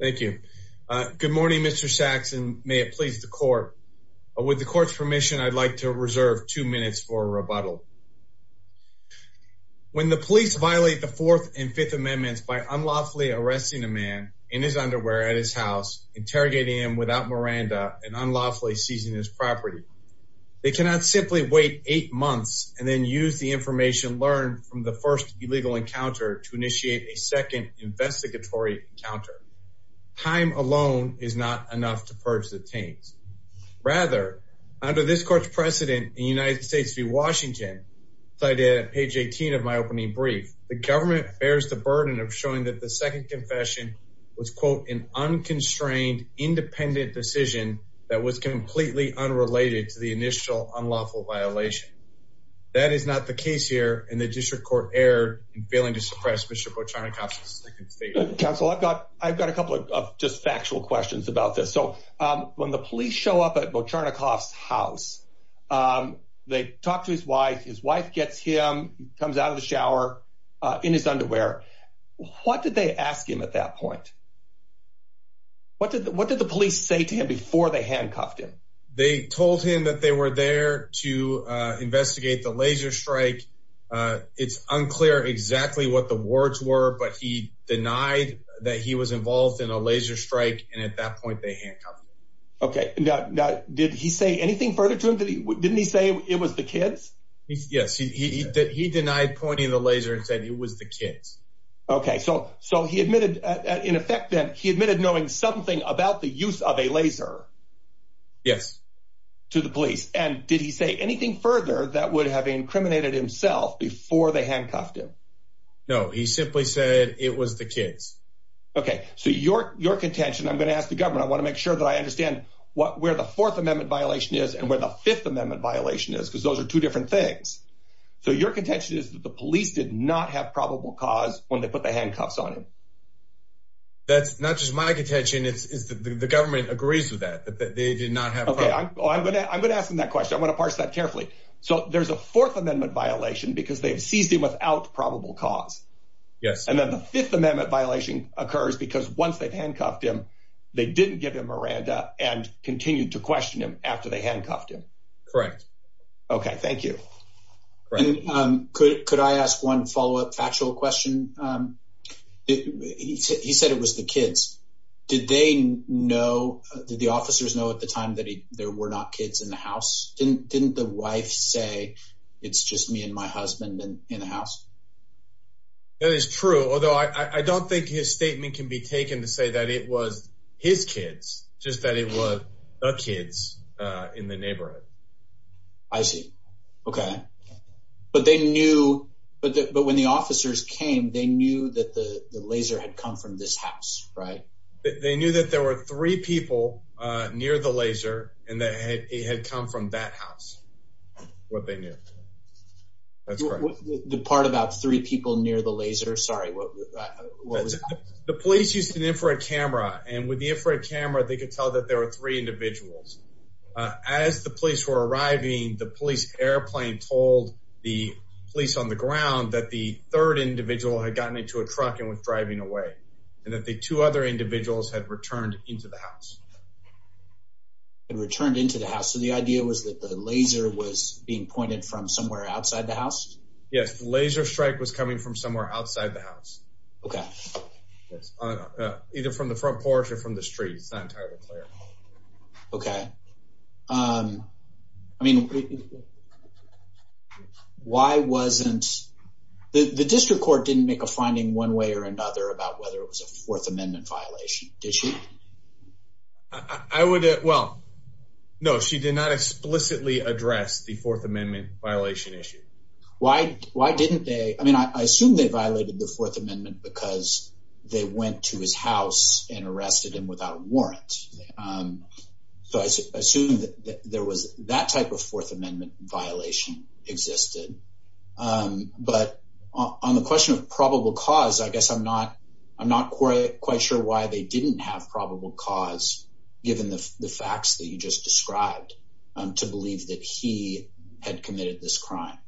Thank you. Good morning Mr. Sachs and may it please the court. With the court's permission I'd like to reserve two minutes for a rebuttal. When the police violate the Fourth and Fifth Amendments by unlawfully arresting a man in his underwear at his house, interrogating him without Miranda, and unlawfully seizing his property, they cannot simply wait eight months and then use the investigatory encounter. Time alone is not enough to purge the taints. Rather, under this court's precedent in United States v. Washington, cited at page 18 of my opening brief, the government bears the burden of showing that the second confession was quote an unconstrained independent decision that was completely unrelated to the initial unlawful violation. That is not the case here and the district court erred in failing to suppress Mr. Bocharnikov's second statement. Counsel, I've got I've got a couple of just factual questions about this. So when the police show up at Bocharnikov's house, they talk to his wife, his wife gets him, comes out of the shower in his underwear. What did they ask him at that point? What did what did the police say to him before they handcuffed him? They told him that they were there to investigate the laser strike. It's unclear exactly what the words were, but he denied that he was involved in a laser strike, and at that point they handcuffed him. Okay, now did he say anything further to him? Didn't he say it was the kids? Yes, he did. He denied pointing the laser and said it was the kids. Okay, so so he admitted in effect that he admitted knowing something about the use of a laser. Yes, to the police. And did he say anything further that would have incriminated himself before they handcuffed him? No, he simply said it was the kids. Okay, so your your contention, I'm gonna ask the government. I want to make sure that I understand what where the Fourth Amendment violation is and where the Fifth Amendment violation is because those are two different things. So your contention is that the police did not have probable cause when they put the not just my contention. It's the government agrees with that. They did not have. Okay, I'm gonna I'm gonna ask him that question. I'm gonna parse that carefully. So there's a Fourth Amendment violation because they've seized him without probable cause. Yes. And then the Fifth Amendment violation occurs because once they've handcuffed him, they didn't give him Miranda and continued to question him after they handcuffed him. Correct. Okay, thank you. And, um, could could I ask one follow up factual question? Um, he said it was the kids. Did they know? Did the officers know at the time that there were not kids in the house? Didn't Didn't the wife say it's just me and my husband and in the house? That is true, although I don't think his statement can be taken to say that it was his kids, just that it was the kids in the neighborhood. I see. Okay. But they knew. But when the officers came, they knew that the laser had come from this house, right? They knew that there were three people near the laser, and that he had come from that house. What they knew that's the part about three people near the laser. Sorry. What was the police used an infrared camera? And with the infrared camera, they could tell that there were three individuals. As the police were arriving, the police airplane told the police on the ground that the third individual had gotten into a truck and was driving away and that the two other individuals had returned into the house and returned into the house. So the idea was that the laser was being pointed from somewhere outside the house. Yes, laser strike was coming from somewhere outside the house. Okay, either from the front porch or from the streets. Okay. Um, I mean, why wasn't the district court didn't make a finding one way or another about whether it was a Fourth Amendment violation? Did she? I would. Well, no, she did not explicitly address the Fourth Amendment violation issue. Why? Why didn't they? I mean, I assume they violated the Fourth Amendment because they went to his house and arrested him without warrant. Um, so I assume that there was that type of Fourth Amendment violation existed. Um, but on the question of probable cause, I guess I'm not. I'm not quite quite sure why they didn't have probable cause, given the facts that you just described to believe that he had committed this crime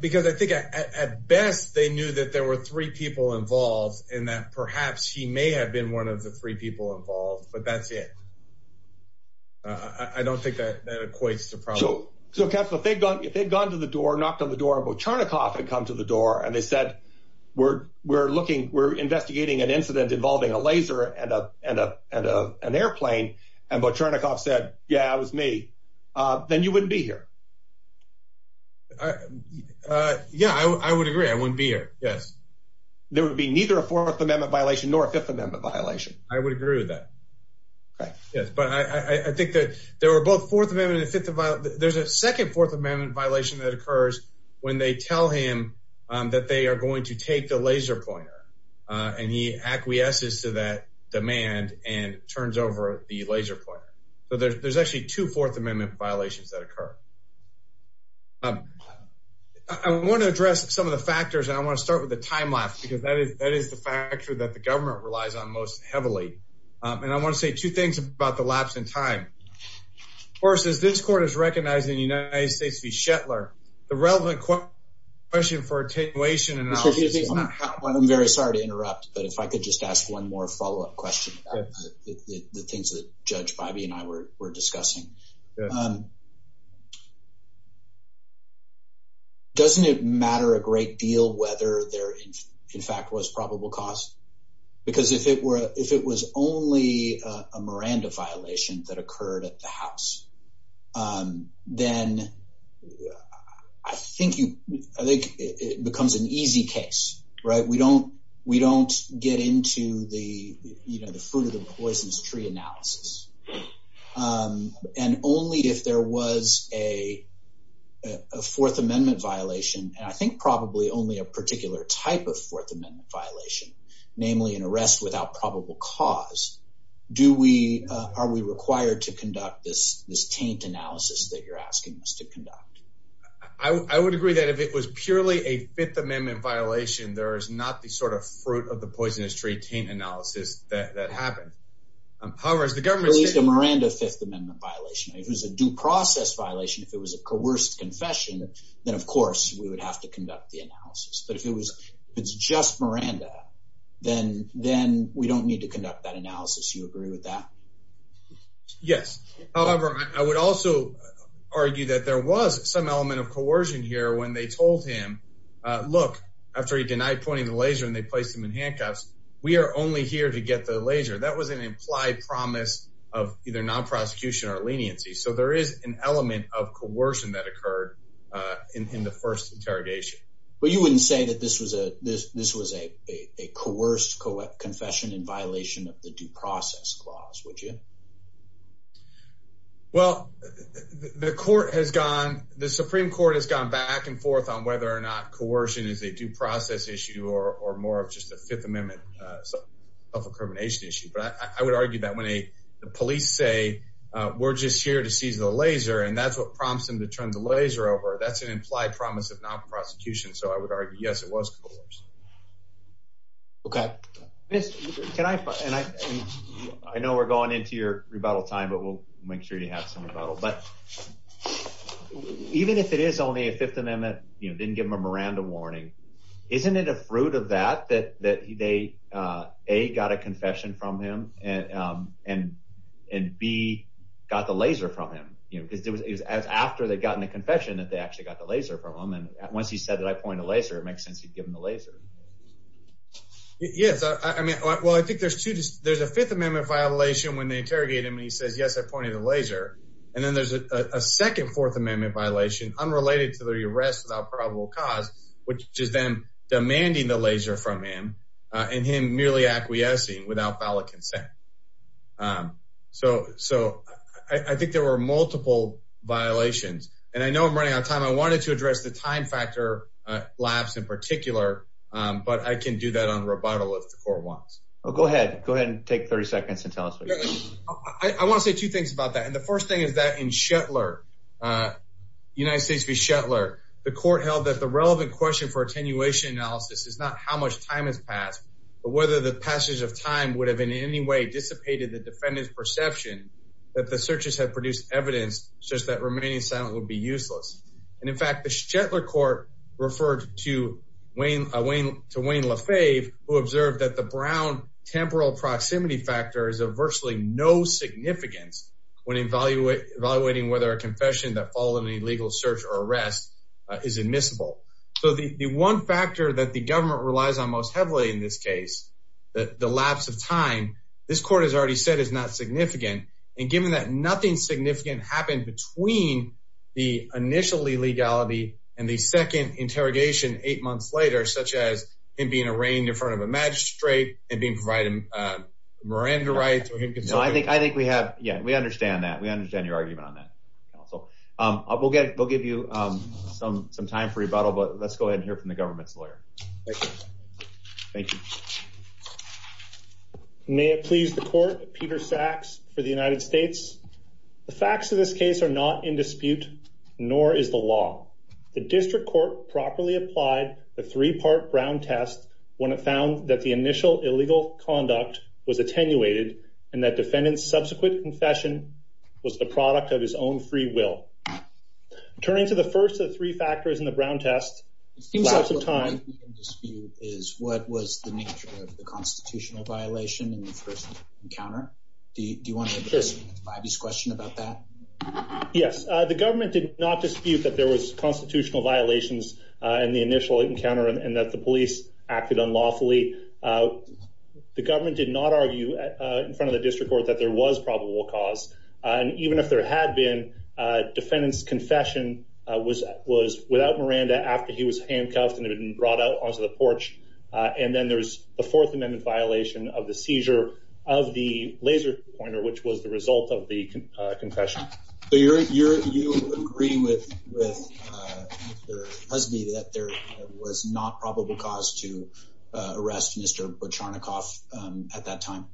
because I think at best they knew that there were three people involved in that. Perhaps he may have been one of the three people involved, but that's it. I don't think that that equates to. So, so, Captain, if they've gone, if they've gone to the door, knocked on the door, but Charnikov had come to the door and they said, We're we're looking. We're investigating an incident involving a laser and a and a and a an airplane. And what Charnikov said? Yeah, it was me. Uh, then you wouldn't be here. Uh, yeah, I would agree. I wouldn't be here. Yes, there would be neither a Fourth Amendment violation or a Fifth Amendment violation. I would agree with that. Yes, but I think that there were both Fourth Amendment and Fifth Amendment. There's a second Fourth Amendment violation that occurs when they tell him that they are going to take the laser pointer on. He acquiesces to that demand and turns over the laser point. So there's actually two Fourth Amendment violations that occur. Um, I want to address some of the factors, and I want to start with the factor that the government relies on most heavily. And I want to say two things about the lapse in time. Of course, as this court is recognizing the United States v. Shetler, the relevant question for attenuation and analysis is not how... I'm very sorry to interrupt, but if I could just ask one more follow up question about the things that Judge Bybee and I were discussing. Um, doesn't it matter a great deal whether there, in fact, was probable cause? Because if it were, if it was only a Miranda violation that occurred at the house, um, then I think you, I think it becomes an easy case, right? We don't, we don't get into the, you know, the fruit of the poisonous tree analysis. Um, and only if there was a Fourth Amendment violation, and I think probably only a particular type of Fourth Amendment violation, namely an arrest without probable cause, do we, are we required to conduct this, this taint analysis that you're asking us to conduct? I would agree that if it was purely a Fifth Amendment violation, there is not the sort of fruit of the Miranda Fifth Amendment violation. If it was a due process violation, if it was a coerced confession, then of course we would have to conduct the analysis. But if it was, it's just Miranda, then, then we don't need to conduct that analysis. You agree with that? Yes. However, I would also argue that there was some element of coercion here when they told him, uh, look, after he denied pointing the laser and they placed him in handcuffs, we are only here to get the laser. That was an implied promise of either non-prosecution or leniency. So there is an element of coercion that occurred, uh, in the first interrogation. But you wouldn't say that this was a, this was a coerced confession in violation of the due process clause, would you? Well, the Court has gone, the Supreme Court has gone back and forth on whether or not coercion is a due process issue or more of just a Fifth Amendment incrimination issue. But I would argue that when a, the police say, uh, we're just here to seize the laser and that's what prompts them to turn the laser over, that's an implied promise of non-prosecution. So I would argue, yes, it was coerced. Okay. Miss, can I, and I, I know we're going into your rebuttal time, but we'll make sure you have some rebuttal. But even if it is only a Fifth Amendment, you know, didn't give him a Miranda warning, isn't it a fruit of that, that, that he, they, uh, A got a confession from him and, um, and, and B got the laser from him, you know, because it was, it was as after they'd gotten the confession that they actually got the laser from him. And once he said that I pointed a laser, it makes sense. He'd give him the laser. Yes. I mean, well, I think there's two, there's a Fifth Amendment violation when they interrogate him and he says, yes, I pointed the laser. And then there's a second Fourth Amendment violation unrelated to the arrest without probable cause, which is then demanding the laser from him, uh, and him merely acquiescing without valid consent. Um, so, so I, I think there were multiple violations and I know I'm running out of time. I wanted to address the time factor, uh, labs in particular. Um, but I can do that on rebuttal if the court wants. Oh, go ahead. Go ahead and take 30 seconds and tell us what you think. I want to say two things about that. And the first thing is that in Shetlar, uh, United States v. Shetlar, the court held that the relevant question for attenuation analysis is not how much time has passed, but whether the passage of time would have in any way dissipated the defendant's perception that the searches had produced evidence such that remaining silent would be useless. And in fact, the Shetlar court referred to Wayne, uh, Wayne, to Wayne Lafave, who observed that the Brown temporal proximity factor is a virtually no significance when evaluating, evaluating whether a confession that involved in an illegal search or arrest, uh, is admissible. So the, the one factor that the government relies on most heavily in this case, that the lapse of time, this court has already said is not significant. And given that nothing significant happened between the initially legality and the second interrogation eight months later, such as him being arraigned in front of a magistrate and being provided, uh, Miranda rights. I think, I think we have, yeah, we understand that. We understand your we'll get, we'll give you, um, some, some time for rebuttal, but let's go ahead and hear from the government's lawyer. Thank you. May it please the court, Peter Sachs for the United States. The facts of this case are not in dispute, nor is the law. The district court properly applied the three-part Brown test when it found that the initial illegal conduct was attenuated and that defendant's subsequent confession was the product of his own free will. Turning to the first of the three factors in the Brown test, it seems like some time dispute is what was the nature of the constitutional violation in the first encounter. Do you want to have this question about that? Yes, the government did not dispute that there was constitutional violations in the initial encounter and that the police acted unlawfully. Uh, the government did not argue in front of the district court that there was probable cause. Uh, and even if there had been, uh, defendant's confession, uh, was, was without Miranda after he was handcuffed and had been brought out onto the porch. Uh, and then there's the fourth amendment violation of the seizure of the laser pointer, which was the result of the, uh, confession. So you're, you're, you agree with, with, uh, Mr. Husby that there was not probable cause to, uh, arrest Mr. Bocharnikoff, um, at that time.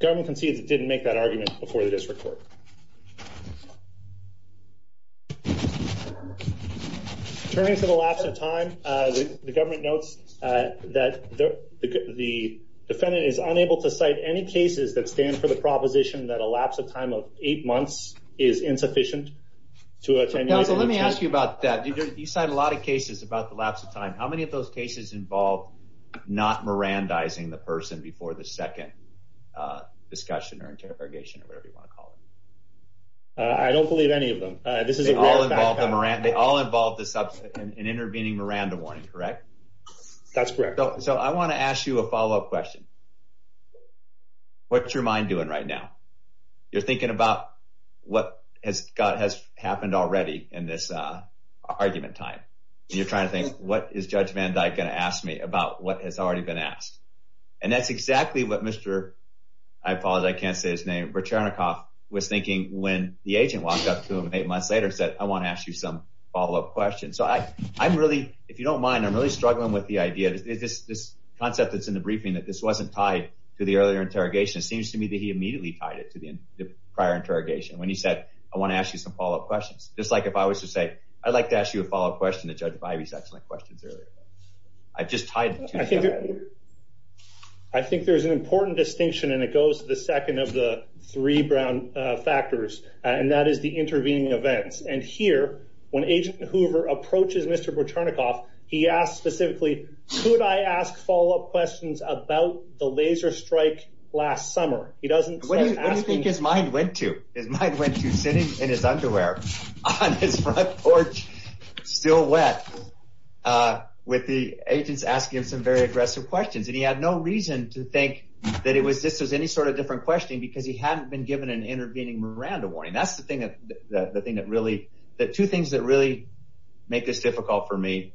Government concedes it didn't make that argument before the district court. Turning to the lapse of time, uh, the government notes, uh, that the defendant is unable to cite any cases that stand for the proposition that a lapse of time of eight months is insufficient to attend. Let me ask you about that. You said a lot of cases about the lapse of time. How many of those cases involved not Mirandizing the person before the second, uh, discussion or interrogation or whatever you want to call it? Uh, I don't believe any of them. Uh, this is all involved in Miranda. They all involved in intervening Miranda warning, correct? That's correct. So I want to ask you a followup question. What's your mind doing right now? You're thinking about what has got, has happened already in this, uh, argument time. And you're trying to think, what is judge Van Dyke going to ask me about what has already been asked? And that's exactly what Mr. I apologize. I can't say his name. Bocharnikoff was thinking when the agent walked up to him eight months later and said, I want to ask you some followup questions. So I, I'm really, if you don't mind, I'm really struggling with the idea that this, this concept that's in the briefing, that this wasn't tied to the earlier interrogation. It seems to me that he immediately tied it to the prior interrogation. When he said, I want to ask you some followup questions, just a followup question to judge Bivey's excellent questions earlier. I've just tied. I think there's an important distinction and it goes to the second of the three brown factors and that is the intervening events. And here, when agent Hoover approaches Mr. Bocharnikoff, he asked specifically, could I ask followup questions about the laser strike last summer? He doesn't. What do you think his mind went to? His mind went to sitting in his underwear on his porch, still wet with the agents asking him some very aggressive questions. And he had no reason to think that it was just as any sort of different questioning because he hadn't been given an intervening Miranda warning. That's the thing that, that, the thing that really, that two things that really make this difficult for me,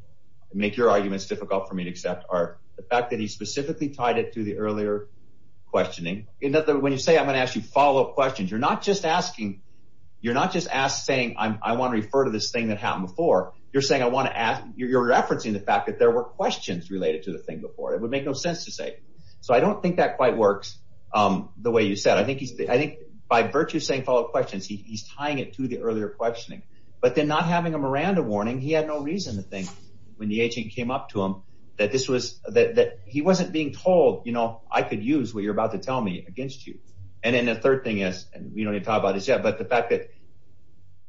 make your arguments difficult for me to accept are the fact that he specifically tied it to the earlier questioning. And when you say, I'm going to ask you followup questions, you're not just asking, you're not just asked saying, I want to refer to this thing that happened before. You're saying, I want to ask, you're, you're referencing the fact that there were questions related to the thing before. It would make no sense to say. So I don't think that quite works. Um, the way you said, I think he's, I think by virtue of saying followup questions, he's tying it to the earlier questioning, but then not having a Miranda warning. He had no reason to think when the agent came up to him that this was that, that he wasn't being told, you know, I could use what you're about to tell me against you. And then the third thing is, and we don't even talk about it yet, but the fact that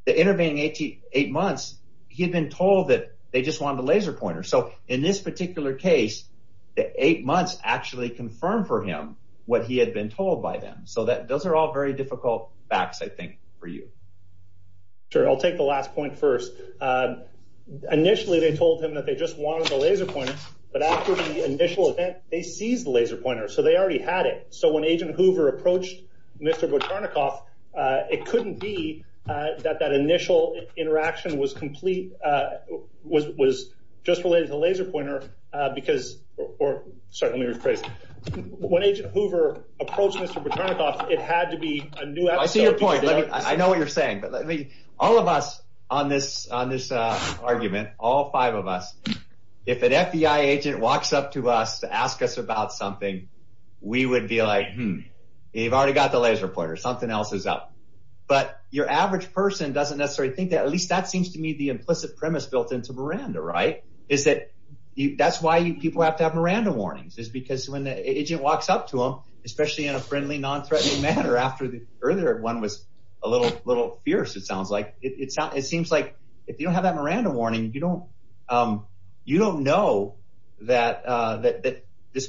the intervening 88 months, he had been told that they just wanted a laser pointer. So in this particular case, the eight months actually confirmed for him what he had been told by them. So that those are all very difficult facts, I think for you. Sure. I'll take the last point first. Uh, initially they told him that they just wanted the laser pointer, but after the initial event, they seized the Hoover approached Mr. Botanik off. It couldn't be that that initial interaction was complete. Uh, was was just related to laser pointer because or certainly reprised when Agent Hoover approached Mr. Botanik off. It had to be a new. I see your point. I know what you're saying. But let me all of us on this on this argument, all five of us. If an FBI agent walks up to us to ask us about something, we would be like, Hmm, you've already got the laser pointer. Something else is up. But your average person doesn't necessarily think that at least that seems to me the implicit premise built into Miranda, right? Is that that's why people have to have Miranda warnings is because when the agent walks up to him, especially in a friendly, non threatening manner after the earlier one was a little little fierce, it sounds like it's not. It seems like if you don't have that Miranda warning, you don't. Um, you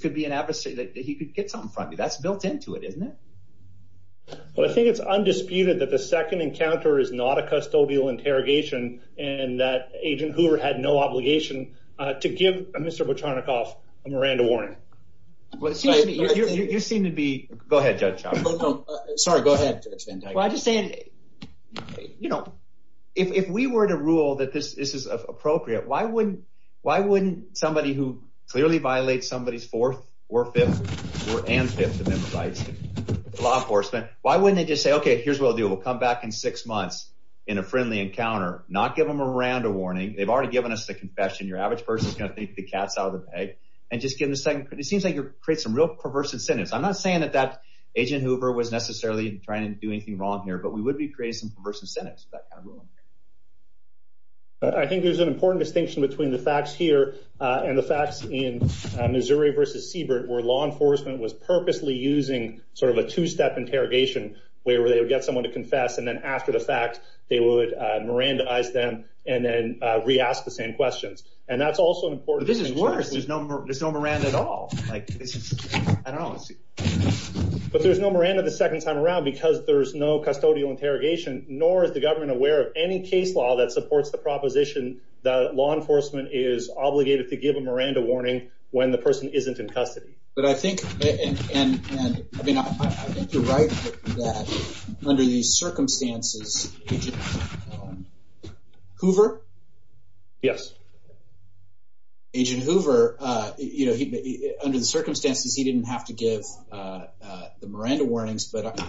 could be an adversary that he could get something from you. That's built into it, isn't it? Well, I think it's undisputed that the second encounter is not a custodial interrogation, and that Agent Hoover had no obligation to give Mr. Botanik off a Miranda warning. You seem to be. Go ahead, Judge. Sorry. Go ahead. Well, I just say, you know, if we were to rule that this is appropriate, why wouldn't why wouldn't somebody who clearly violate somebody's fourth or fifth or and fifth of them rights law enforcement? Why wouldn't they just say, Okay, here's what we'll do. We'll come back in six months in a friendly encounter, not give him around a warning. They've already given us the confession. Your average person's gonna take the cats out of the bag and just give the second. It seems like you create some real perverse incentives. I'm not saying that that Agent Hoover was necessarily trying to do anything wrong here, but we would be creating some perverse incentives. That kind of way. I think there's an important distinction between the facts here on the facts in Missouri versus Siebert, where law enforcement was purposely using sort of a two step interrogation where they would get someone to confess, and then after the fact, they would Miranda eyes them and then re asked the same questions. And that's also important. This is worse. There's no there's no Miranda at all. Like, I don't know. But there's no Miranda the second time around because there's no custodial interrogation, nor is the government aware of any case law that supports the proposition that law enforcement is obligated to give a Miranda warning when the person isn't in custody. But I think and I mean, I think you're right that under these circumstances, Hoover. Yes. Agent Hoover, you know, under the circumstances, he didn't have to give the Miranda warnings. But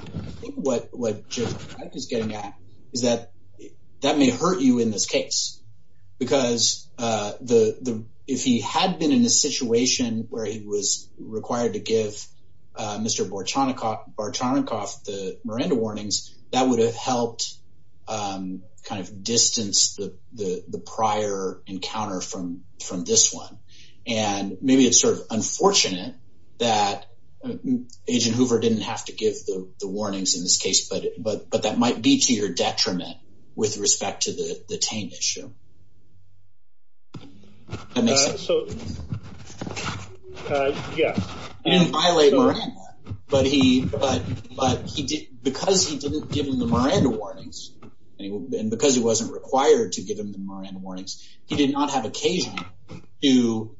what what is getting at is that that may hurt you in this case, because the if he had been in a situation where he was required to give Mr Borchonikov the Miranda warnings that would have helped kind of distance the prior encounter from from this one. And maybe it's sort of Agent Hoover didn't have to give the warnings in this case, but but but that might be to your detriment with respect to the taint issue. And so yes, and violate Miranda. But he but but he did because he didn't give him the Miranda warnings and because he wasn't required to give him the Miranda warnings. He did not have occasion to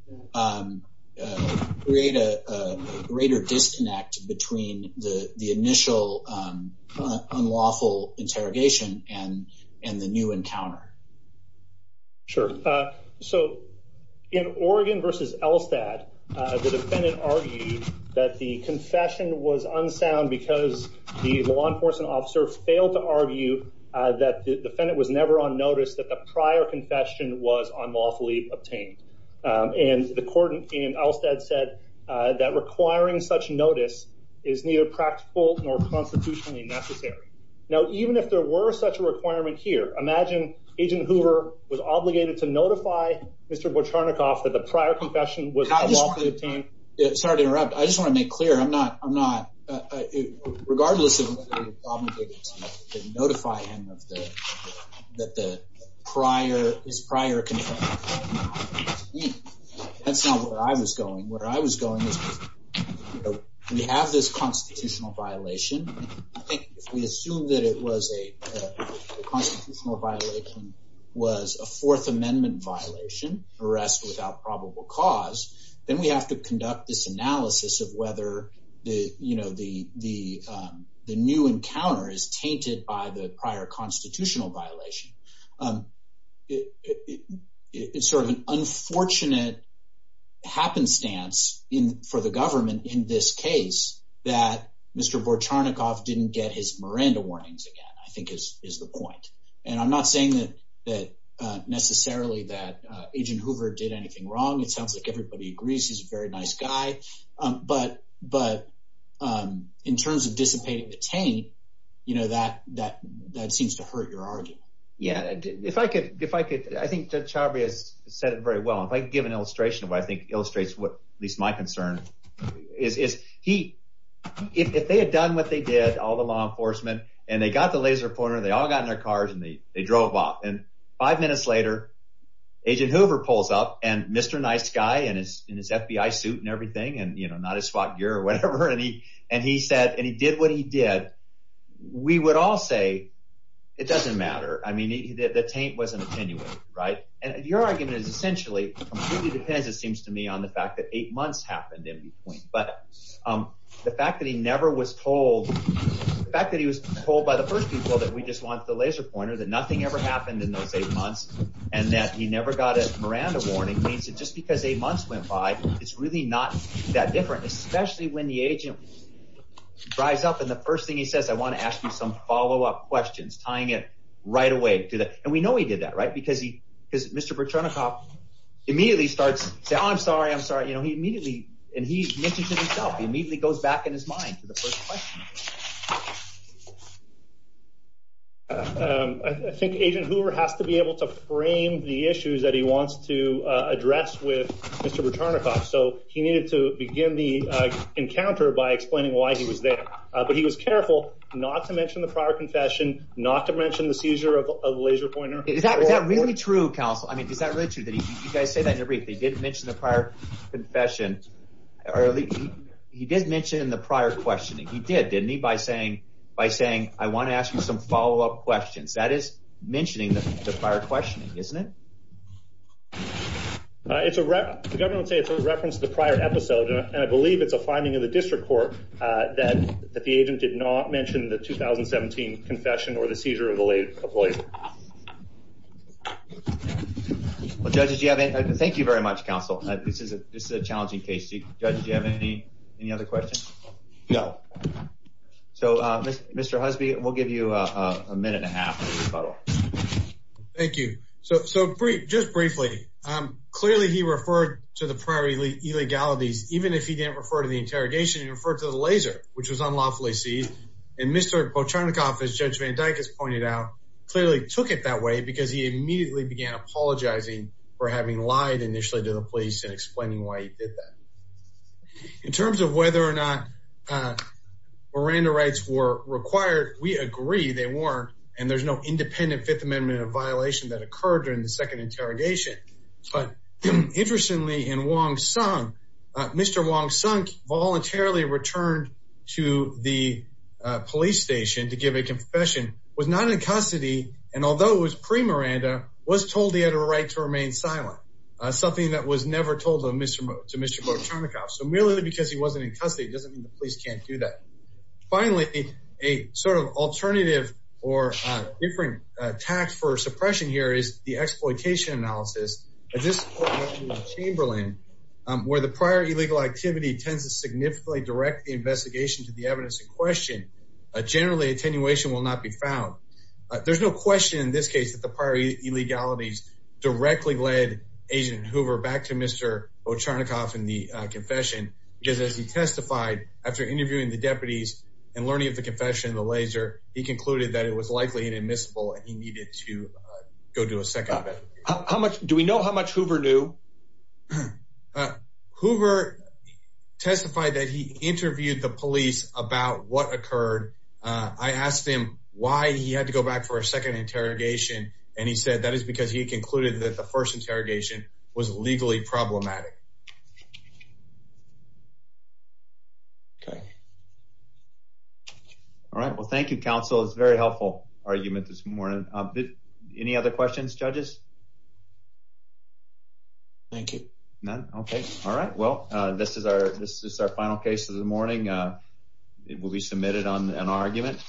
create a greater disconnect between the initial unlawful interrogation and and the new encounter. Sure. So in Oregon versus Elstad, the defendant argued that the confession was unsound because the law enforcement officer failed to argue that the prior confession was unlawfully obtained. And the court in Elstad said that requiring such notice is neither practical nor constitutionally necessary. Now, even if there were such a requirement here, imagine Agent Hoover was obligated to notify Mr Borchonikov that the prior confession was it's hard to interrupt. I just want to make clear I'm not I'm not regardless of whether he was obligated to notify him of the that the prior his prior confession was unlawfully obtained. That's not where I was going. Where I was going is we have this constitutional violation. I think if we assume that it was a constitutional violation was a Fourth Amendment violation, arrest without probable cause, then we have to conduct this analysis of whether the you encounter is tainted by the prior constitutional violation. It's sort of an unfortunate happenstance for the government in this case that Mr Borchonikov didn't get his Miranda warnings again, I think is the point. And I'm not saying that that necessarily that Agent Hoover did anything wrong. It sounds like everybody agrees he's a very nice guy. But but in terms of taint, you know, that that that seems to hurt your argument. Yeah, if I could, if I could, I think that Chabria has said it very well. If I could give an illustration of what I think illustrates what at least my concern is, is he if they had done what they did, all the law enforcement and they got the laser pointer, they all got in their cars and they drove off. And five minutes later, Agent Hoover pulls up and Mr Nice guy and his in his FBI suit and everything and, you know, not a swap gear or whatever. And he and he said, and he did what he did. We would all say it doesn't matter. I mean, the taint wasn't attenuated, right? And your argument is essentially completely depends, it seems to me, on the fact that eight months happened in between. But the fact that he never was told the fact that he was told by the first people that we just want the laser pointer that nothing ever happened in those eight months and went by. It's really not that different, especially when the agent drives up. And the first thing he says, I want to ask you some follow up questions tying it right away to that. And we know he did that, right? Because he because Mr Bertrand, a cop immediately starts to I'm sorry. I'm sorry. You know, he immediately and he mentioned himself. He immediately goes back in his mind. I think Agent Hoover has to be able to frame the issues that he wants to return a cop. So he needed to begin the encounter by explaining why he was there. But he was careful not to mention the prior confession, not to mention the seizure of a laser pointer. Is that really true? Counsel? I mean, is that really true that you guys say that everything didn't mention the prior confession early? He did mention in the prior questioning. He did, didn't he? By saying by saying, I want to ask you some follow up questions that is mentioning the prior questioning, isn't it? It's a reference to the prior episode, and I believe it's a finding of the district court that the agent did not mention the 2017 confession or the seizure of the late employee. Well, judges, you have it. Thank you very much. Counsel. This is a challenging case. Do you have any other questions? No. So, Mr Husby, we'll give you a minute and a half. Thank you. So just briefly, clearly he referred to the prior illegalities, even if he didn't refer to the interrogation, he referred to the laser, which was unlawfully seized. And Mr. Pocharnikoff, as Judge Van Dyck has pointed out, clearly took it that way because he immediately began apologizing for having lied initially to the police and explaining why he did that. In terms of whether or not Miranda rights were agreed, they weren't, and there's no independent Fifth Amendment violation that occurred during the second interrogation. But interestingly, in Wong Sung, Mr. Wong Sung voluntarily returned to the police station to give a confession, was not in custody, and although it was pre-Miranda, was told he had a right to remain silent, something that was never told to Mr. Pocharnikoff. So merely because he wasn't in custody doesn't mean the alternative or different tax for suppression here is the exploitation analysis. At this point in Chamberlain, where the prior illegal activity tends to significantly direct the investigation to the evidence in question, generally attenuation will not be found. There's no question in this case that the prior illegalities directly led Agent Hoover back to Mr. Pocharnikoff in the confession, because as he testified after interviewing the he concluded that it was likely inadmissible and he needed to go do a second. How much do we know? How much Hoover knew? Hoover testified that he interviewed the police about what occurred. I asked him why he had to go back for a second interrogation, and he said that is because he concluded that the first interrogation was legally problematic. Okay. All right. Well, thank you. Council is very helpful argument this morning. Any other questions? Judges? Thank you. Okay. All right. Well, this is our This is our final case of the morning. Uh, it will be submitted on an argument.